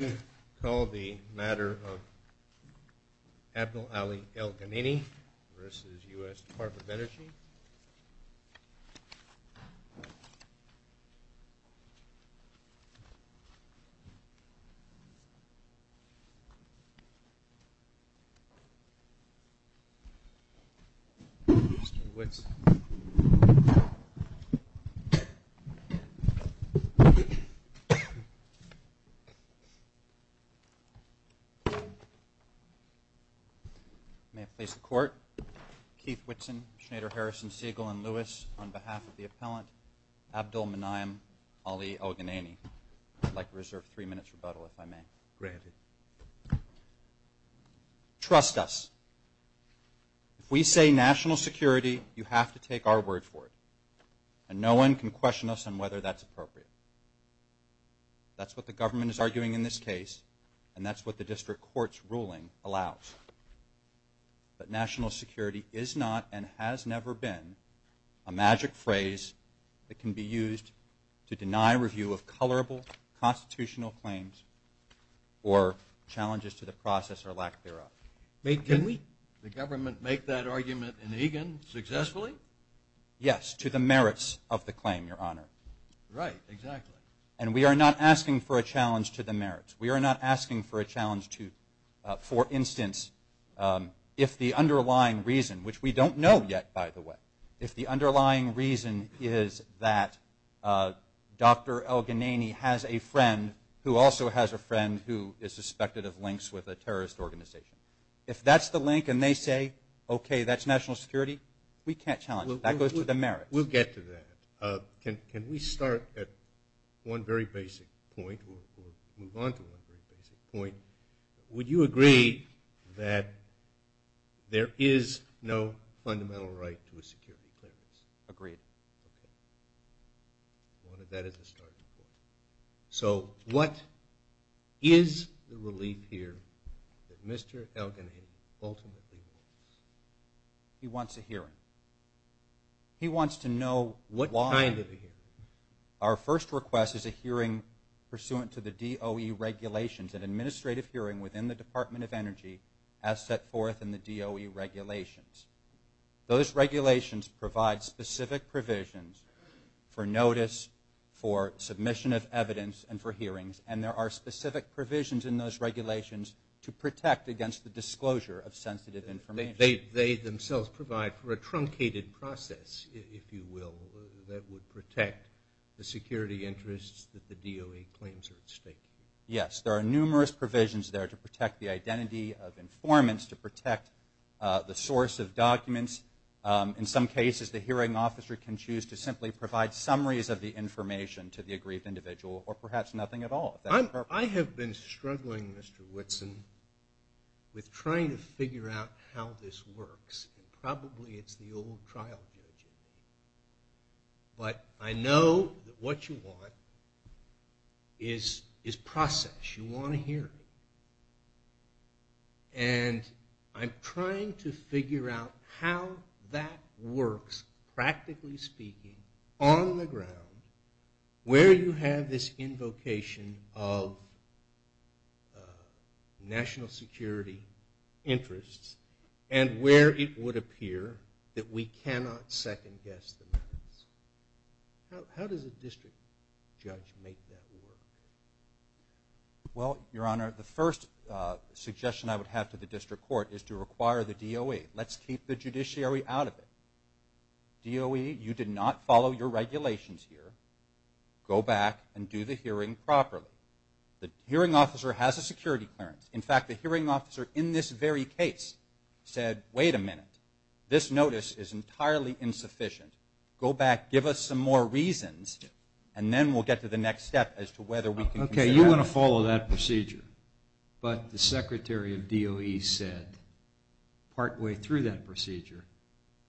I call the matter of Abdel-Ali El-Ganayni v. U.S. Department of Energy. May it please the Court, Keith Whitson, Schneider, Harrison, Siegel, and Lewis, on behalf of the appellant, Abdel-Manaym Ali El-Ganayni. I'd like to reserve three minutes rebuttal if I may. Great. Trust us. If we say national security, you have to take our word for it. And no one can question us on whether that's appropriate. That's what the government is arguing in this case, and that's what the district court's ruling allows. But national security is not, and has never been, a magic phrase that can be used to deny review of colorable constitutional claims or challenges to the process or lack thereof. Wait, can we? The government make that argument in Egan successfully? Yes, to the merits of the claim, Your Honor. Right, exactly. And we are not asking for a challenge to the merits. We are not asking for a challenge to, for instance, if the underlying reason, which we don't know yet, by the way, if the underlying reason is that Dr. El-Ganayni has a friend who also has a friend who is suspected of links with a terrorist organization. If that's the link and they say, okay, that's national security, we can't challenge it. That goes to the merits. We'll get to that. Can we start at one very basic point or move on to one very basic point? Would you agree that there is no fundamental right to a security clearance? Agreed. Okay. That is a starting point. So what is the relief here that Mr. El-Ganayni ultimately wants? He wants a hearing. He wants to know why. What kind of a hearing? Our first request is a hearing pursuant to the DOE regulations, an administrative hearing within the Department of Energy as set forth in the DOE regulations. Those regulations provide specific provisions for notice, for submission of evidence, and for hearings. And there are specific provisions in those regulations to protect against the disclosure of sensitive information. They themselves provide for a truncated process, if you will, that would protect the security interests that the DOE claims are at stake. Yes. There are numerous provisions there to protect the identity of informants, to protect the source of documents. In some cases, the hearing officer can choose to simply provide summaries of the information to the aggrieved individual or perhaps nothing at all. I have been struggling, Mr. Whitson, with trying to figure out how this works. Probably it's the old trial judge in me. But I know that what you want is process. You want a hearing. And I'm trying to figure out how that works, practically speaking, on the ground, where you have this invocation of national security interests and where it would appear that we cannot second-guess the methods. How does a district judge make that work? Well, Your Honor, the first suggestion I would have to the district court is to require the DOE, you did not follow your regulations here, go back and do the hearing properly. The hearing officer has a security clearance. In fact, the hearing officer in this very case said, wait a minute, this notice is entirely insufficient. Go back, give us some more reasons, and then we'll get to the next step as to whether we can consider that. Okay, you want to follow that procedure. But the Secretary of DOE said partway through that procedure,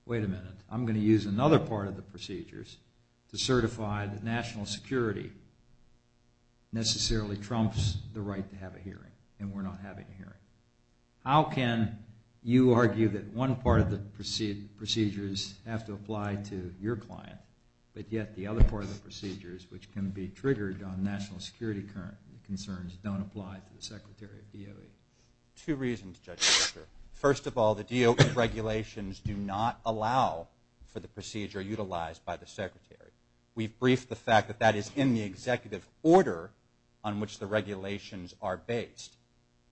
wait a minute, I'm going to use another part of the procedures to certify that national security necessarily trumps the right to have a hearing, and we're not having a hearing. How can you argue that one part of the procedures have to apply to your client, but yet the other part of the procedures, which can be triggered on national security concerns, don't apply to the Secretary of DOE? Two reasons, Judge Fischer. First of all, the DOE regulations do not allow for the procedure utilized by the Secretary. We've briefed the fact that that is in the executive order on which the regulations are based.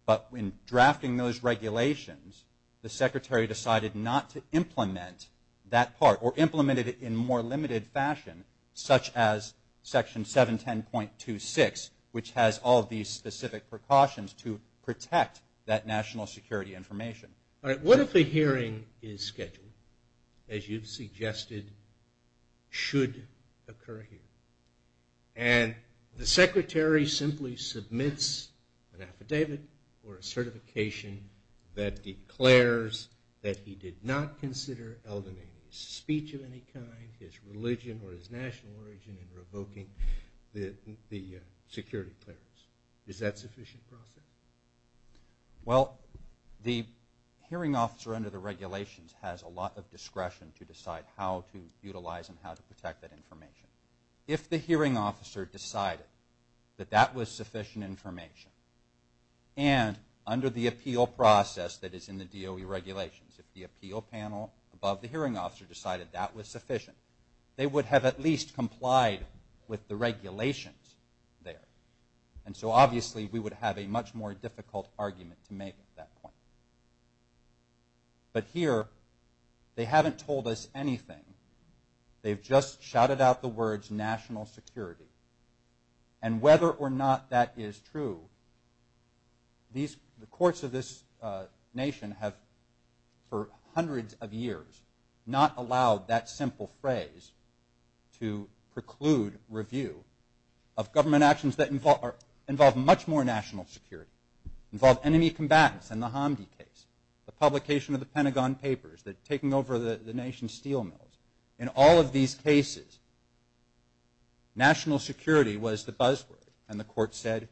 But when drafting those regulations, the Secretary decided not to implement that part, or implemented it in a more limited fashion, such as Section 710.26, which has all these specific precautions to protect that national security information. All right, what if a hearing is scheduled, as you've suggested should occur here, and the Secretary simply submits an affidavit or a certification that declares that he did not consider al-Dinayni's speech of any kind, his religion, or his national origin in revoking the security clearance? Is that a sufficient process? Well, the hearing officer under the regulations has a lot of discretion to decide how to utilize and how to protect that information. If the hearing officer decided that that was sufficient information, and under the appeal process that is in the DOE regulations, if the appeal panel above the hearing officer decided that was sufficient, they would have at least complied with the regulations there. And so obviously, we would have a much more difficult argument to make at that point. But here, they haven't told us anything. They've just shouted out the words, national security. And whether or not that is true, the courts of this nation have, for hundreds of years, not allowed that simple phrase to preclude review of government actions that involve much more national security, involve enemy combatants in the Hamdi case, the publication of the Pentagon Papers, taking over the nation's steel mills. In all of these cases, national security was the buzzword. And the court said,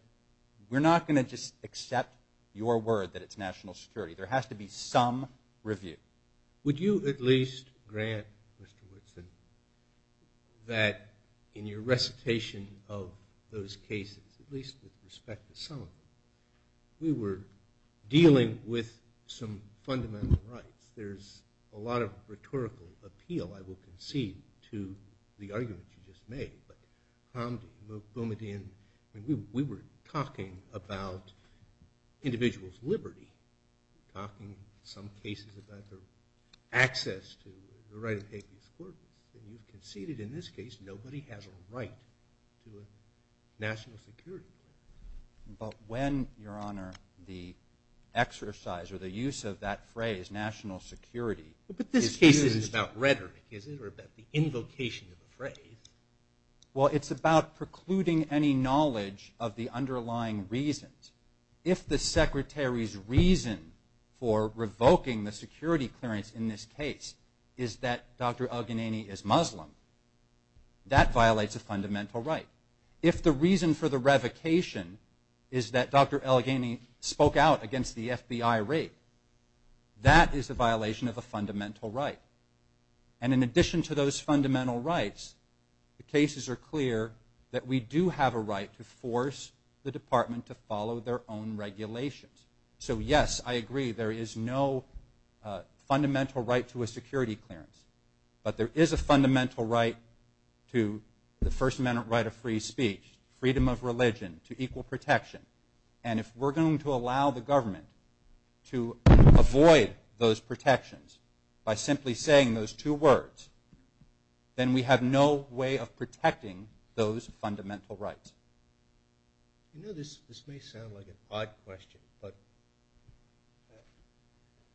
we're not going to just accept your word that it's national security. There has to be some review. Would you at least grant, Mr. Woodson, that in your recitation of those cases, at least with respect to some of them, we were dealing with some fundamental rights? There's a lot of rhetorical appeal, I will concede, to the argument you just made. But Hamdi, Boumediene, we were talking about individuals' liberty, talking in some cases about their access to the right of habeas corpus. And you've conceded, in this case, nobody has a right to a national security claim. But when, Your Honor, the exercise or the case is about rhetoric, is it, or about the invocation of a phrase? Well, it's about precluding any knowledge of the underlying reasons. If the Secretary's reason for revoking the security clearance in this case is that Dr. El-Ghani is Muslim, that violates a fundamental right. If the reason for the revocation is that Dr. El-Ghani spoke out against the FBI raid, that is a violation of a fundamental right. And in addition to those fundamental rights, the cases are clear that we do have a right to force the Department to follow their own regulations. So yes, I agree, there is no fundamental right to a security clearance. But there is a fundamental right to the First Amendment right of free speech, freedom of religion, to equal protection. And if we're going to allow the government to avoid those protections by simply saying those two words, then we have no way of protecting those fundamental rights. You know, this may sound like an odd question, but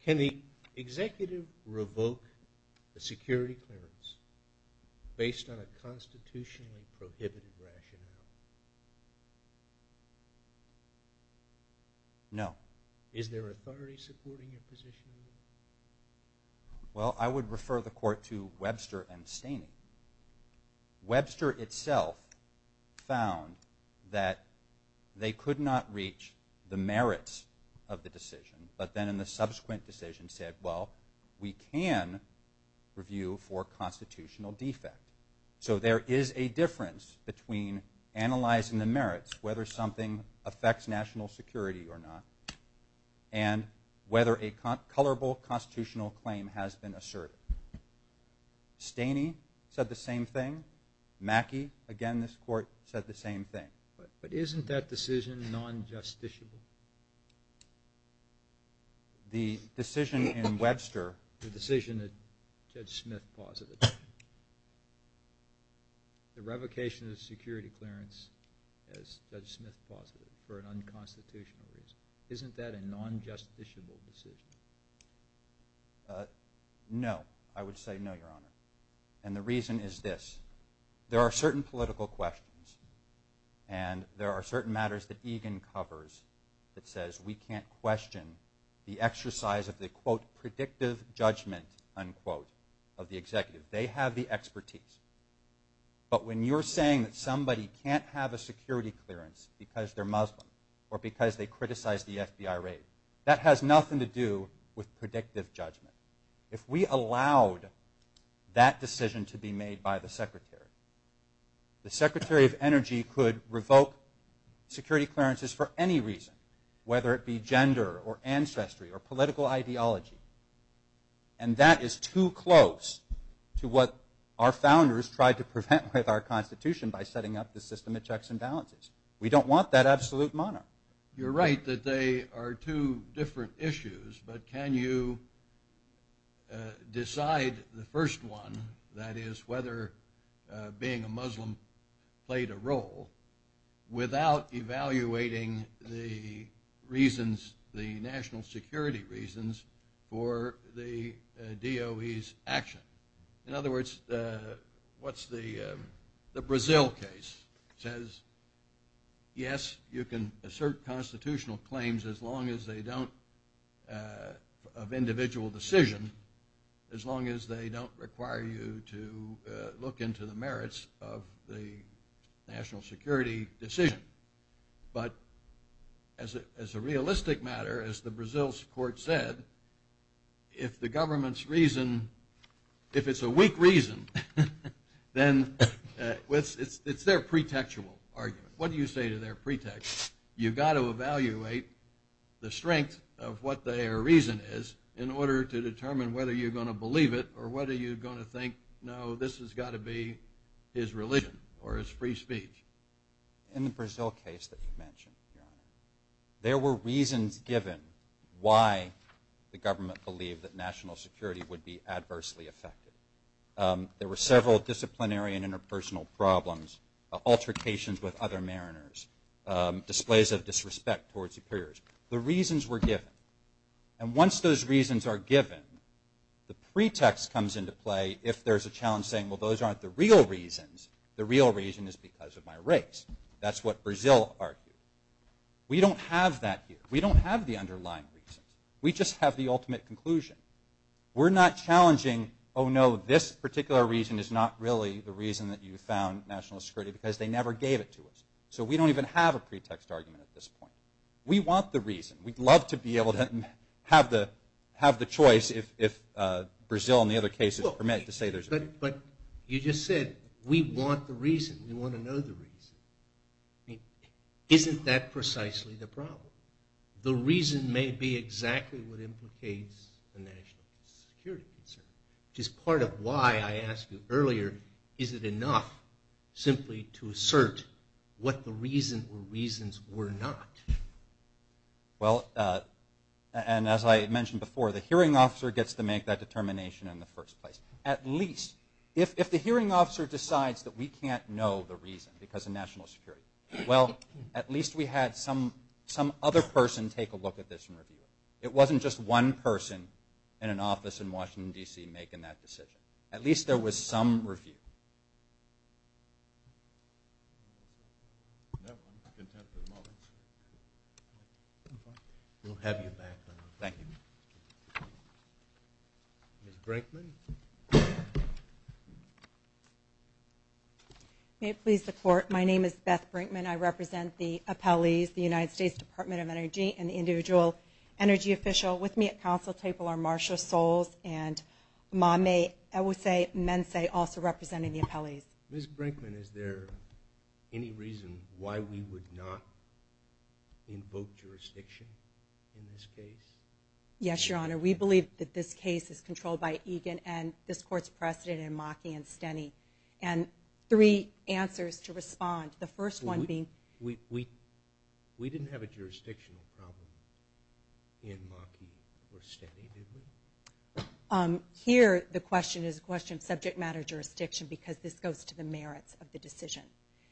can the executive revoke a security clearance based on a constitutionally prohibited rationale? No. Is there authority supporting your position? Well, I would refer the court to Webster and decision. But then in the subsequent decision said, well, we can review for constitutional defect. So there is a difference between analyzing the merits, whether something affects national security or not, and whether a colorable constitutional claim has been asserted. Staney said the same thing. Mackey, again, this court, said the same thing. But isn't that decision non-justiciable? The decision in Webster, the decision that Judge Smith posited, the revocation of security clearance as Judge Smith posited for an unconstitutional reason, isn't that a non-justiciable decision? No, I would say no, Your Honor. And the reason is this. There are certain political questions and there are certain matters that Egan covers that says we can't question the exercise of the, quote, predictive judgment, unquote, of the executive. They have the expertise. But when you're saying that somebody can't have a security clearance because they're Muslim or because they criticize the FBI raid, that has nothing to do with predictive The Secretary of Energy could revoke security clearances for any reason, whether it be gender or ancestry or political ideology. And that is too close to what our founders tried to prevent with our Constitution by setting up the system of checks and balances. We don't want that absolute monarchy. You're right that they are two different issues, but can you decide the first one, that is, whether being a Muslim played a role, without evaluating the reasons, the national security reasons, for the DOE's action? In other words, what's the Brazil case? It says, yes, you can assert constitutional claims as long as they don't, of individual decision, as long as they don't require you to look into the merits of the national security decision. But as a realistic matter, as the Brazil court said, if the government's reason, if it's a weak reason, then it's their pretextual argument. What do you say to their pretext? You've got to evaluate the strength of what their reason is in order to determine whether you're going to believe it or whether you're going to think, no, this has got to be his religion or his free speech. In the Brazil case that you mentioned, there were reasons given why the government believed that national security would be adversely affected. There were several disciplinary and interpersonal problems, altercations with other mariners, displays of disrespect towards superiors. The reasons were given. And once those reasons are given, the pretext comes into play if there's a challenge saying, well, those aren't the real reasons. The real reason is because of my race. That's what Brazil argued. We don't have that here. We don't have the underlying reasons. We just have the ultimate conclusion. We're not challenging, oh, no, this particular reason is not really the reason that you found national security because they never gave it to us. So we don't even have a pretext argument at this point. We want the reason. We'd love to be able to have the choice if Brazil and the other cases permit to say there's a reason. But you just said, we want the reason. We want to know the reason. I mean, isn't that precisely the problem? The reason may be exactly what implicates the national security concern, which is part of why I asked you earlier, is it enough simply to assert what the reason or reasons were not? Well, and as I mentioned before, the hearing officer gets to make that determination in the first place. At least, if the hearing officer decides that we can't know the reason because of national security, well, at least we take a look at this and review it. It wasn't just one person in an office in Washington, D.C. making that decision. At least there was some review. We'll have you back. Thank you. Ms. Brinkman. May it please the Court, my name is Beth Brinkman. I represent the appellees, the United States Department of Energy, and the individual energy official. With me at counsel table are Marsha Solz and Mame Ewosei-Mensei, also representing the appellees. Ms. Brinkman, is there any reason why we would not invoke jurisdiction in this case? Yes, Your Honor. We believe that this case is controlled by Egan and this Court's precedent in Maki and Steny. And three answers to respond. The first one being... We didn't have a jurisdictional problem in Maki or Steny, did we? Here the question is a question of subject matter jurisdiction because this goes to the merits of the decision.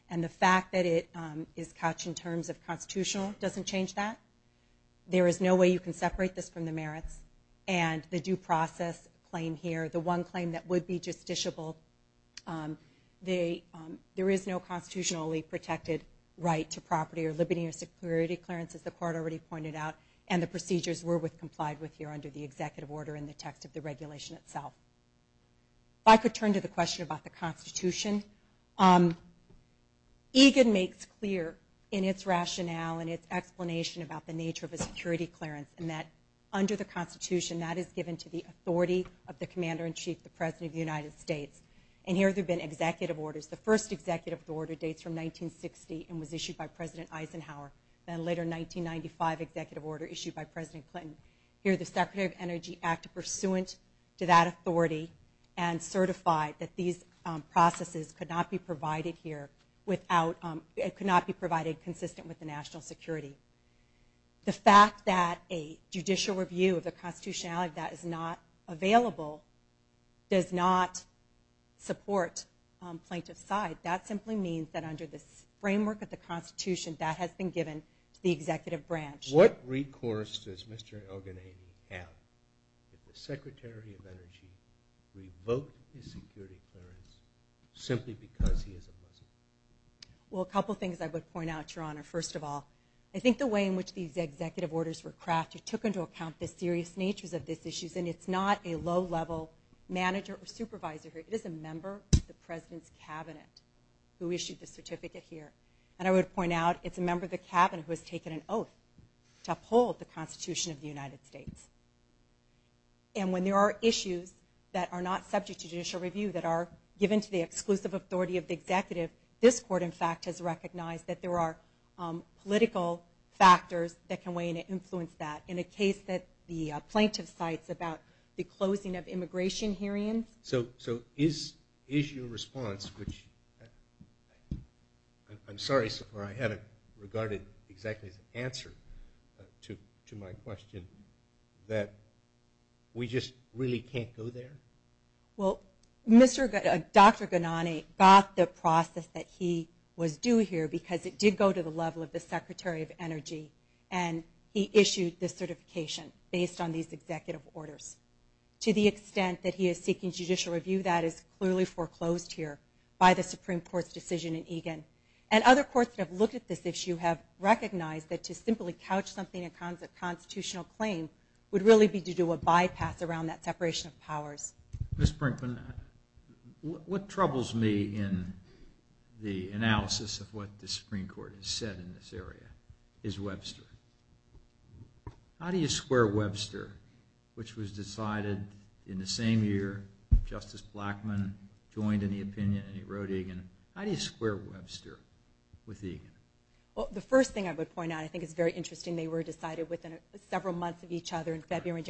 And the fact that it is couched in terms of constitutional doesn't change that. There is no way you can separate this from the merits. And the due process claim here, the one claim that would be justiciable, there is no constitutionally protected right to property or liberty or security clearance as the Court already pointed out. And the procedures were complied with here under the executive order in the text of the regulation itself. If I could turn to the question about the Constitution. Egan makes clear in its rationale and its explanation about the nature of a security clearance and that under the Constitution that is given to the authority of the Commander-in-Chief, the President of the United States. And here there have been executive orders. The first executive order dates from 1960 and was issued by President Eisenhower. Then a later 1995 executive order issued by President Clinton. Here the Secretary of Energy acted pursuant to that authority and certified that these processes could not be provided here without... It could not be provided consistent with the national security. The fact that a judicial review of the constitutionality that is not available does not support plaintiff's side. That simply means that under the framework of the Constitution that has been given to the executive branch. What recourse does Mr. Elgenady have if the Secretary of Energy revoked his security clearance simply because he is a Muslim? Well, a couple things I would point out, Your Honor. First of all, I think the way in which these executive orders were crafted took into account the serious natures of these issues. And it's not a low-level manager or supervisor here. It is a member of the President's Cabinet who issued the certificate here. And I would point out it's a member of the Cabinet who has taken an oath to uphold the Constitution of the United States. And when there are issues that are not subject to judicial review that are exclusive authority of the executive, this Court, in fact, has recognized that there are political factors that can weigh in and influence that. In a case that the plaintiff cites about the closing of immigration hearings. So is your response, which... I'm sorry, I haven't regarded exactly the answer to my question, that we just really can't go there? Well, Dr. Ghannani got the process that he was doing here because it did go to the level of the Secretary of Energy. And he issued this certification based on these executive orders. To the extent that he is seeking judicial review, that is clearly foreclosed here by the Supreme Court's decision in Egan. And other courts that have looked at this issue have recognized that to simply couch something in a constitutional claim would really be to do a bypass around that separation of powers. Ms. Brinkman, what troubles me in the analysis of what the Supreme Court has said in this area is Webster. How do you square Webster, which was decided in the same year Justice Blackmun joined in the opinion and he wrote Egan? How do you square Webster with Egan? Well, the first thing I would point out, I think it's very interesting, they were decided within several months of each other in February.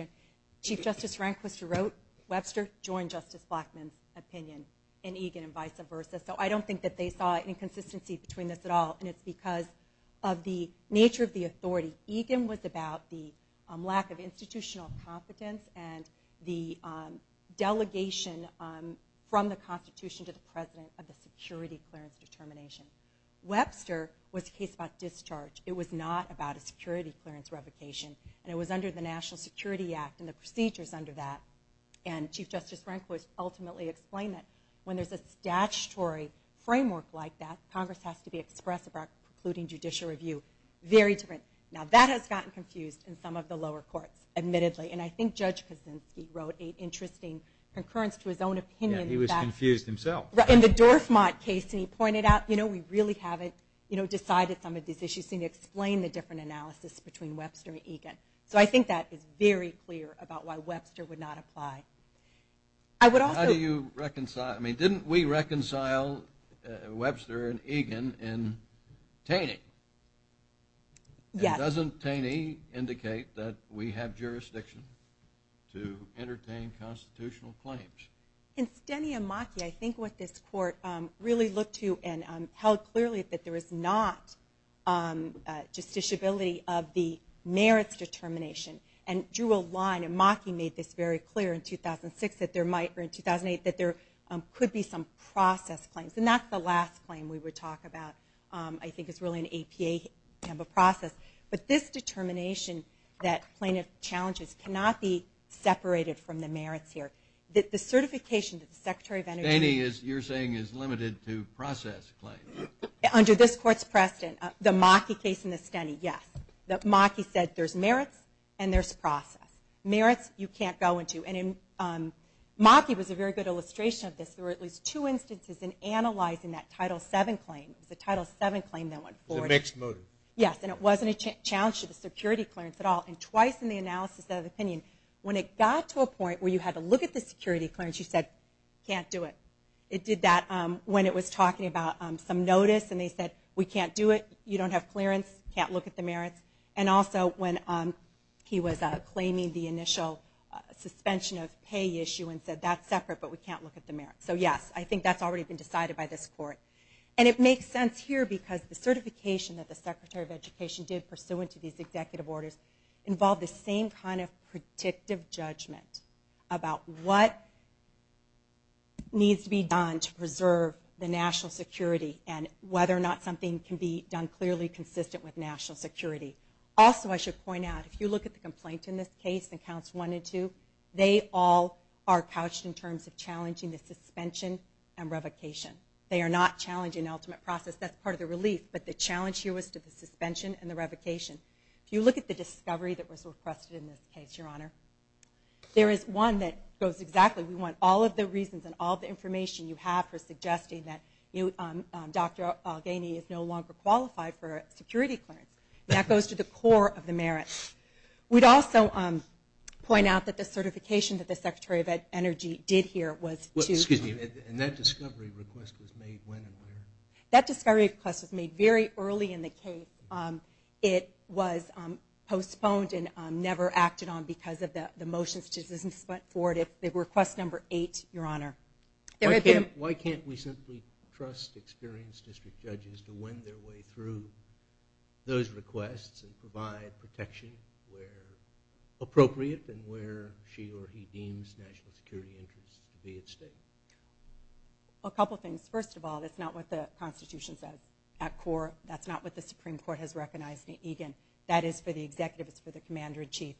Chief Justice Rehnquist wrote Webster joined Justice Blackmun's opinion in Egan and vice versa. So I don't think that they saw inconsistency between this at all. And it's because of the nature of the authority. Egan was about the lack of institutional competence and the delegation from the Constitution to the President of the security clearance determination. Webster was a case about discharge. It was not about a clearance revocation. And it was under the National Security Act and the procedures under that. And Chief Justice Rehnquist ultimately explained that when there's a statutory framework like that, Congress has to be expressive about precluding judicial review. Very different. Now that has gotten confused in some of the lower courts, admittedly. And I think Judge Kaczynski wrote an interesting concurrence to his own opinion. He was confused himself. In the Dorfmott case, he pointed out, you know, we really haven't, you know, decided some of these issues. He explained the different analysis between Webster and Egan. So I think that is very clear about why Webster would not apply. I would also... How do you reconcile? I mean, didn't we reconcile Webster and Egan in Taney? Yes. And doesn't Taney indicate that we have jurisdiction to entertain constitutional claims? In Steny and Maki, I think what this court really looked to and held clearly that there is not justiciability of the merits determination. And drew a line, and Maki made this very clear in 2006 that there might, or in 2008, that there could be some process claims. And that's the last claim we would talk about. I think it's really an APA type of process. But this determination that plaintiff challenges cannot be separated from the merits here. The certification that the Secretary of Energy... Taney, you're saying, is limited to process claims. Under this court's precedent, the Maki case in the Steny, yes. Maki said there's merits, and there's process. Merits, you can't go into. And Maki was a very good illustration of this. There were at least two instances in analyzing that Title VII claim. It was a Title VII claim that went forward. It was a mixed motive. Yes. And it wasn't a challenge to the security clearance at all. And twice in the analysis of the opinion, when it got to a point where you had to look at the security clearance, you said, can't do it. It did that when it was talking about some notice. And they said, we can't do it. You don't have clearance. Can't look at the merits. And also when he was claiming the initial suspension of pay issue and said, that's separate, but we can't look at the merits. So yes, I think that's already been decided by this court. And it makes sense here because the certification that the Secretary of Education did pursuant to these executive orders involved the same kind of predictive judgment about what needs to be done to preserve the national security and whether or not something can be done clearly consistent with national security. Also, I should point out, if you look at the complaint in this case and counts one and two, they all are couched in terms of challenging the suspension and revocation. They are not challenging the ultimate process. That's part of the relief. But the challenge here was to the suspension and the revocation. If you look at the discovery that and all the information you have for suggesting that Dr. Algeny is no longer qualified for security clearance, that goes to the core of the merits. We'd also point out that the certification that the Secretary of Energy did here was to... Excuse me. And that discovery request was made when and where? That discovery request was made very early in the case. It was postponed and never acted on because of the motions that were sent forward. It was request number eight, Your Honor. Why can't we simply trust experienced district judges to win their way through those requests and provide protection where appropriate and where she or he deems national security interests to be at stake? A couple things. First of all, that's not what the Constitution says at core. That's not what the Supreme Court has recognized in Egan. That is for the executives, for the Commander-in-Chief.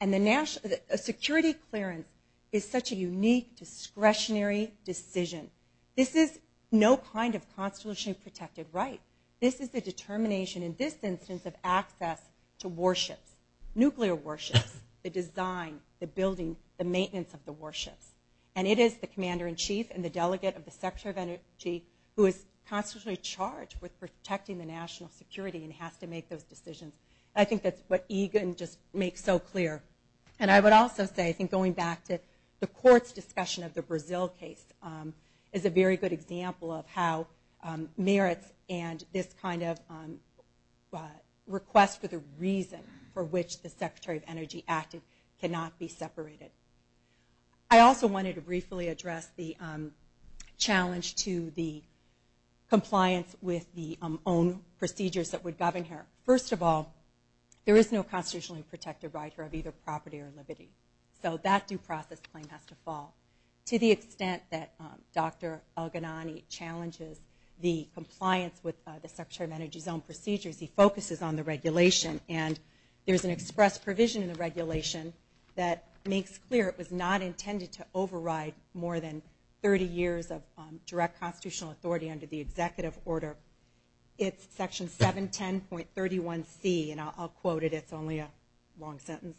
And a security clearance is such a unique discretionary decision. This is no kind of constitutionally protected right. This is the determination in this instance of access to warships, nuclear warships, the design, the building, the maintenance of the warships. And it is the Commander-in-Chief and the delegate of the Secretary of Energy who is constitutionally charged with protecting the national security and has to make those decisions. I think that's what Egan just makes so clear. And I would also say I think going back to the court's discussion of the Brazil case is a very good example of how merits and this kind of request for the reason for which the Secretary of Energy acted cannot be separated. I also wanted to briefly address the challenge to the compliance with the own procedures that there is no constitutionally protected right here of either property or liberty. So that due process claim has to fall. To the extent that Dr. El-Ghanani challenges the compliance with the Secretary of Energy's own procedures, he focuses on the regulation. And there's an express provision in the regulation that makes clear it was not intended to override more than 30 years of direct constitutional authority under the executive order. It's section 710.31c. And I'll quote it. It's only a long sentence.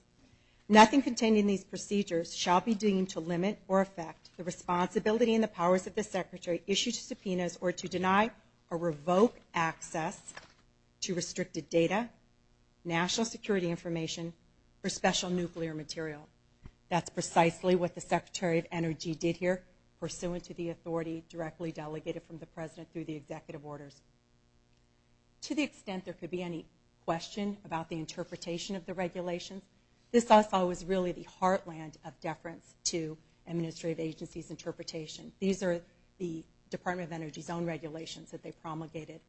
Nothing contained in these procedures shall be deemed to limit or affect the responsibility and the powers of the Secretary issued to subpoenas or to deny or revoke access to restricted data, national security information, or special nuclear material. That's precisely what the Secretary of Energy did here pursuant to the authority directly delegated from the Secretary of Energy. To the extent there could be any question about the interpretation of the regulations, this also was really the heartland of deference to administrative agency's interpretation. These are the Department of Energy's own regulations that they promulgated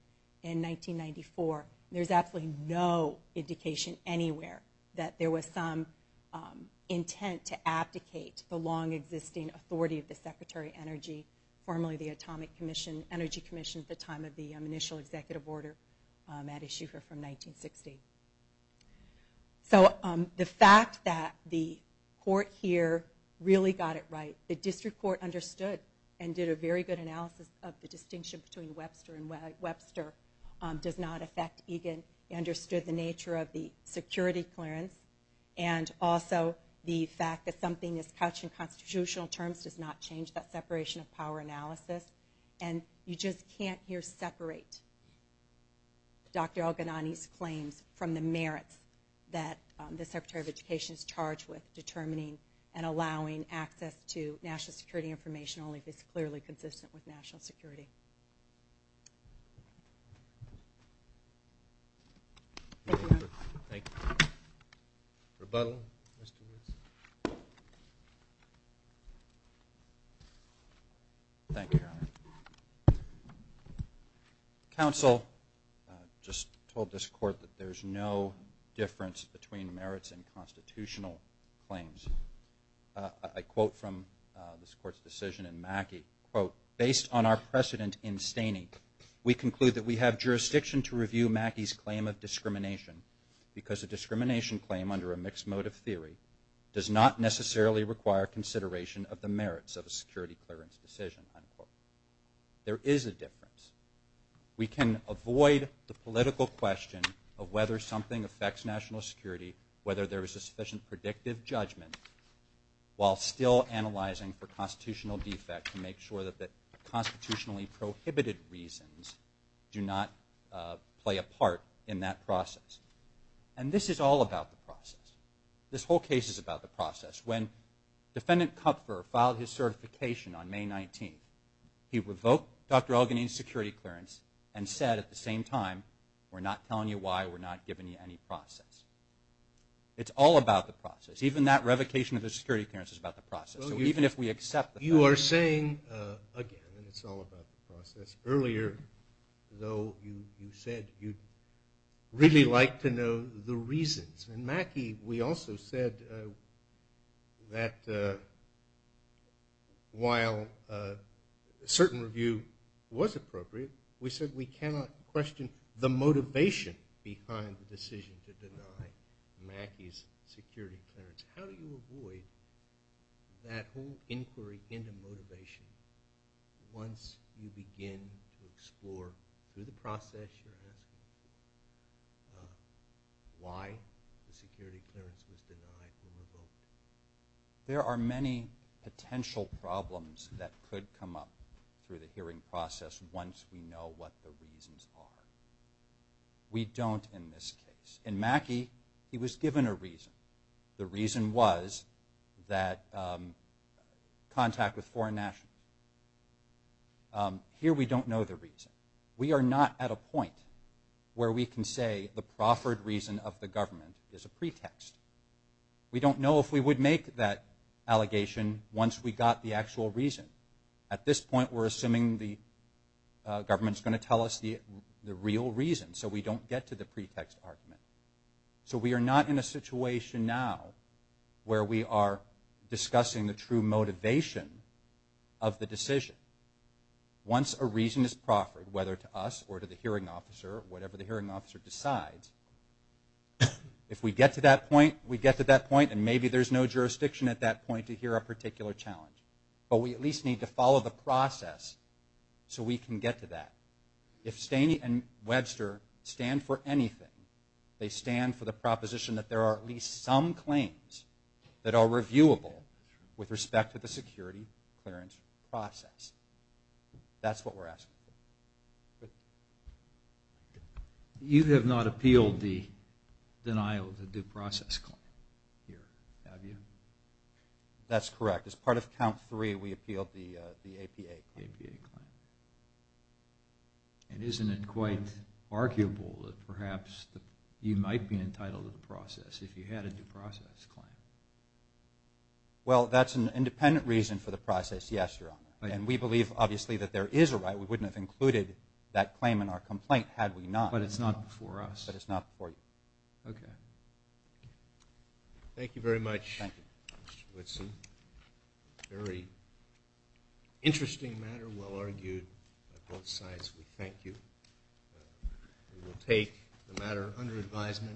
in 1994. There's absolutely no indication anywhere that there was some intent to abdicate the long existing authority of the Secretary of Energy, formerly the Atomic Energy Commission at the initial executive order at issue here from 1960. So the fact that the court here really got it right, the district court understood and did a very good analysis of the distinction between Webster and Webster, does not affect Egan, understood the nature of the security clearance, and also the fact that something is couched in constitutional terms does not change that does not separate Dr. Elginani's claims from the merits that the Secretary of Education is charged with determining and allowing access to national security information only if it's clearly consistent with national security. Thank you, Your Honor. Counsel just told this court that there's no difference between merits and constitutional claims. I quote from this court's decision in Mackey, quote, based on our precedent in Staney, we conclude that we have jurisdiction to review Mackey's claim of discrimination because a discrimination claim under a mixed motive theory does not necessarily require consideration of the merits of a security clearance decision, unquote. There is a difference. We can avoid the political question of whether something affects national security, whether there is a sufficient predictive judgment, while still analyzing for constitutional defect to make sure that the constitutionally prohibited reasons do not play a part in that process. And this is all about the process. This whole case is about the process. When Defendant Kupfer filed his certification on May 19th, he revoked Dr. Elginani's security clearance and said at the same time, we're not telling you why, we're not giving you any process. It's all about the process. Even that revocation of the security clearance is about the process. Even if we accept that. You are saying, again, it's all about the process. Earlier, though, you said you'd really like to know the reasons. And Mackey, we also said that while a certain review was appropriate, we said we cannot question the motivation behind the decision to deny Mackey's security clearance. How do you avoid that whole inquiry into motivation once you begin to explore, through the process you're asking, why the security clearance was denied or revoked? There are many potential problems that could come up through the hearing process once we know what the reasons are. We don't in this case. In Mackey, he was given a reason. The reason was that contact with foreign nationals. Here, we don't know the reason. We are not at a point where we can say the proffered reason of the government is a pretext. We don't know if we would make that allegation once we got the actual reason. At this point, we're assuming the real reason, so we don't get to the pretext argument. So we are not in a situation now where we are discussing the true motivation of the decision. Once a reason is proffered, whether to us or to the hearing officer, whatever the hearing officer decides, if we get to that point, we get to that point and maybe there's no jurisdiction at that point to hear a particular challenge. But we at least need to follow the process so we can get to that. If Staney and Webster stand for anything, they stand for the proposition that there are at least some claims that are reviewable with respect to the security clearance process. That's what we're asking. You have not appealed the denial of the due process claim, have you? That's correct. As in it quite arguable that perhaps you might be entitled to the process if you had a due process claim. Well, that's an independent reason for the process, yes, Your Honor. And we believe obviously that there is a right. We wouldn't have included that claim in our complaint had we not. But it's not before us. But it's not before you. Okay. Thank you very much, Mr. Whitson. Very good. We will take the matter under advisement.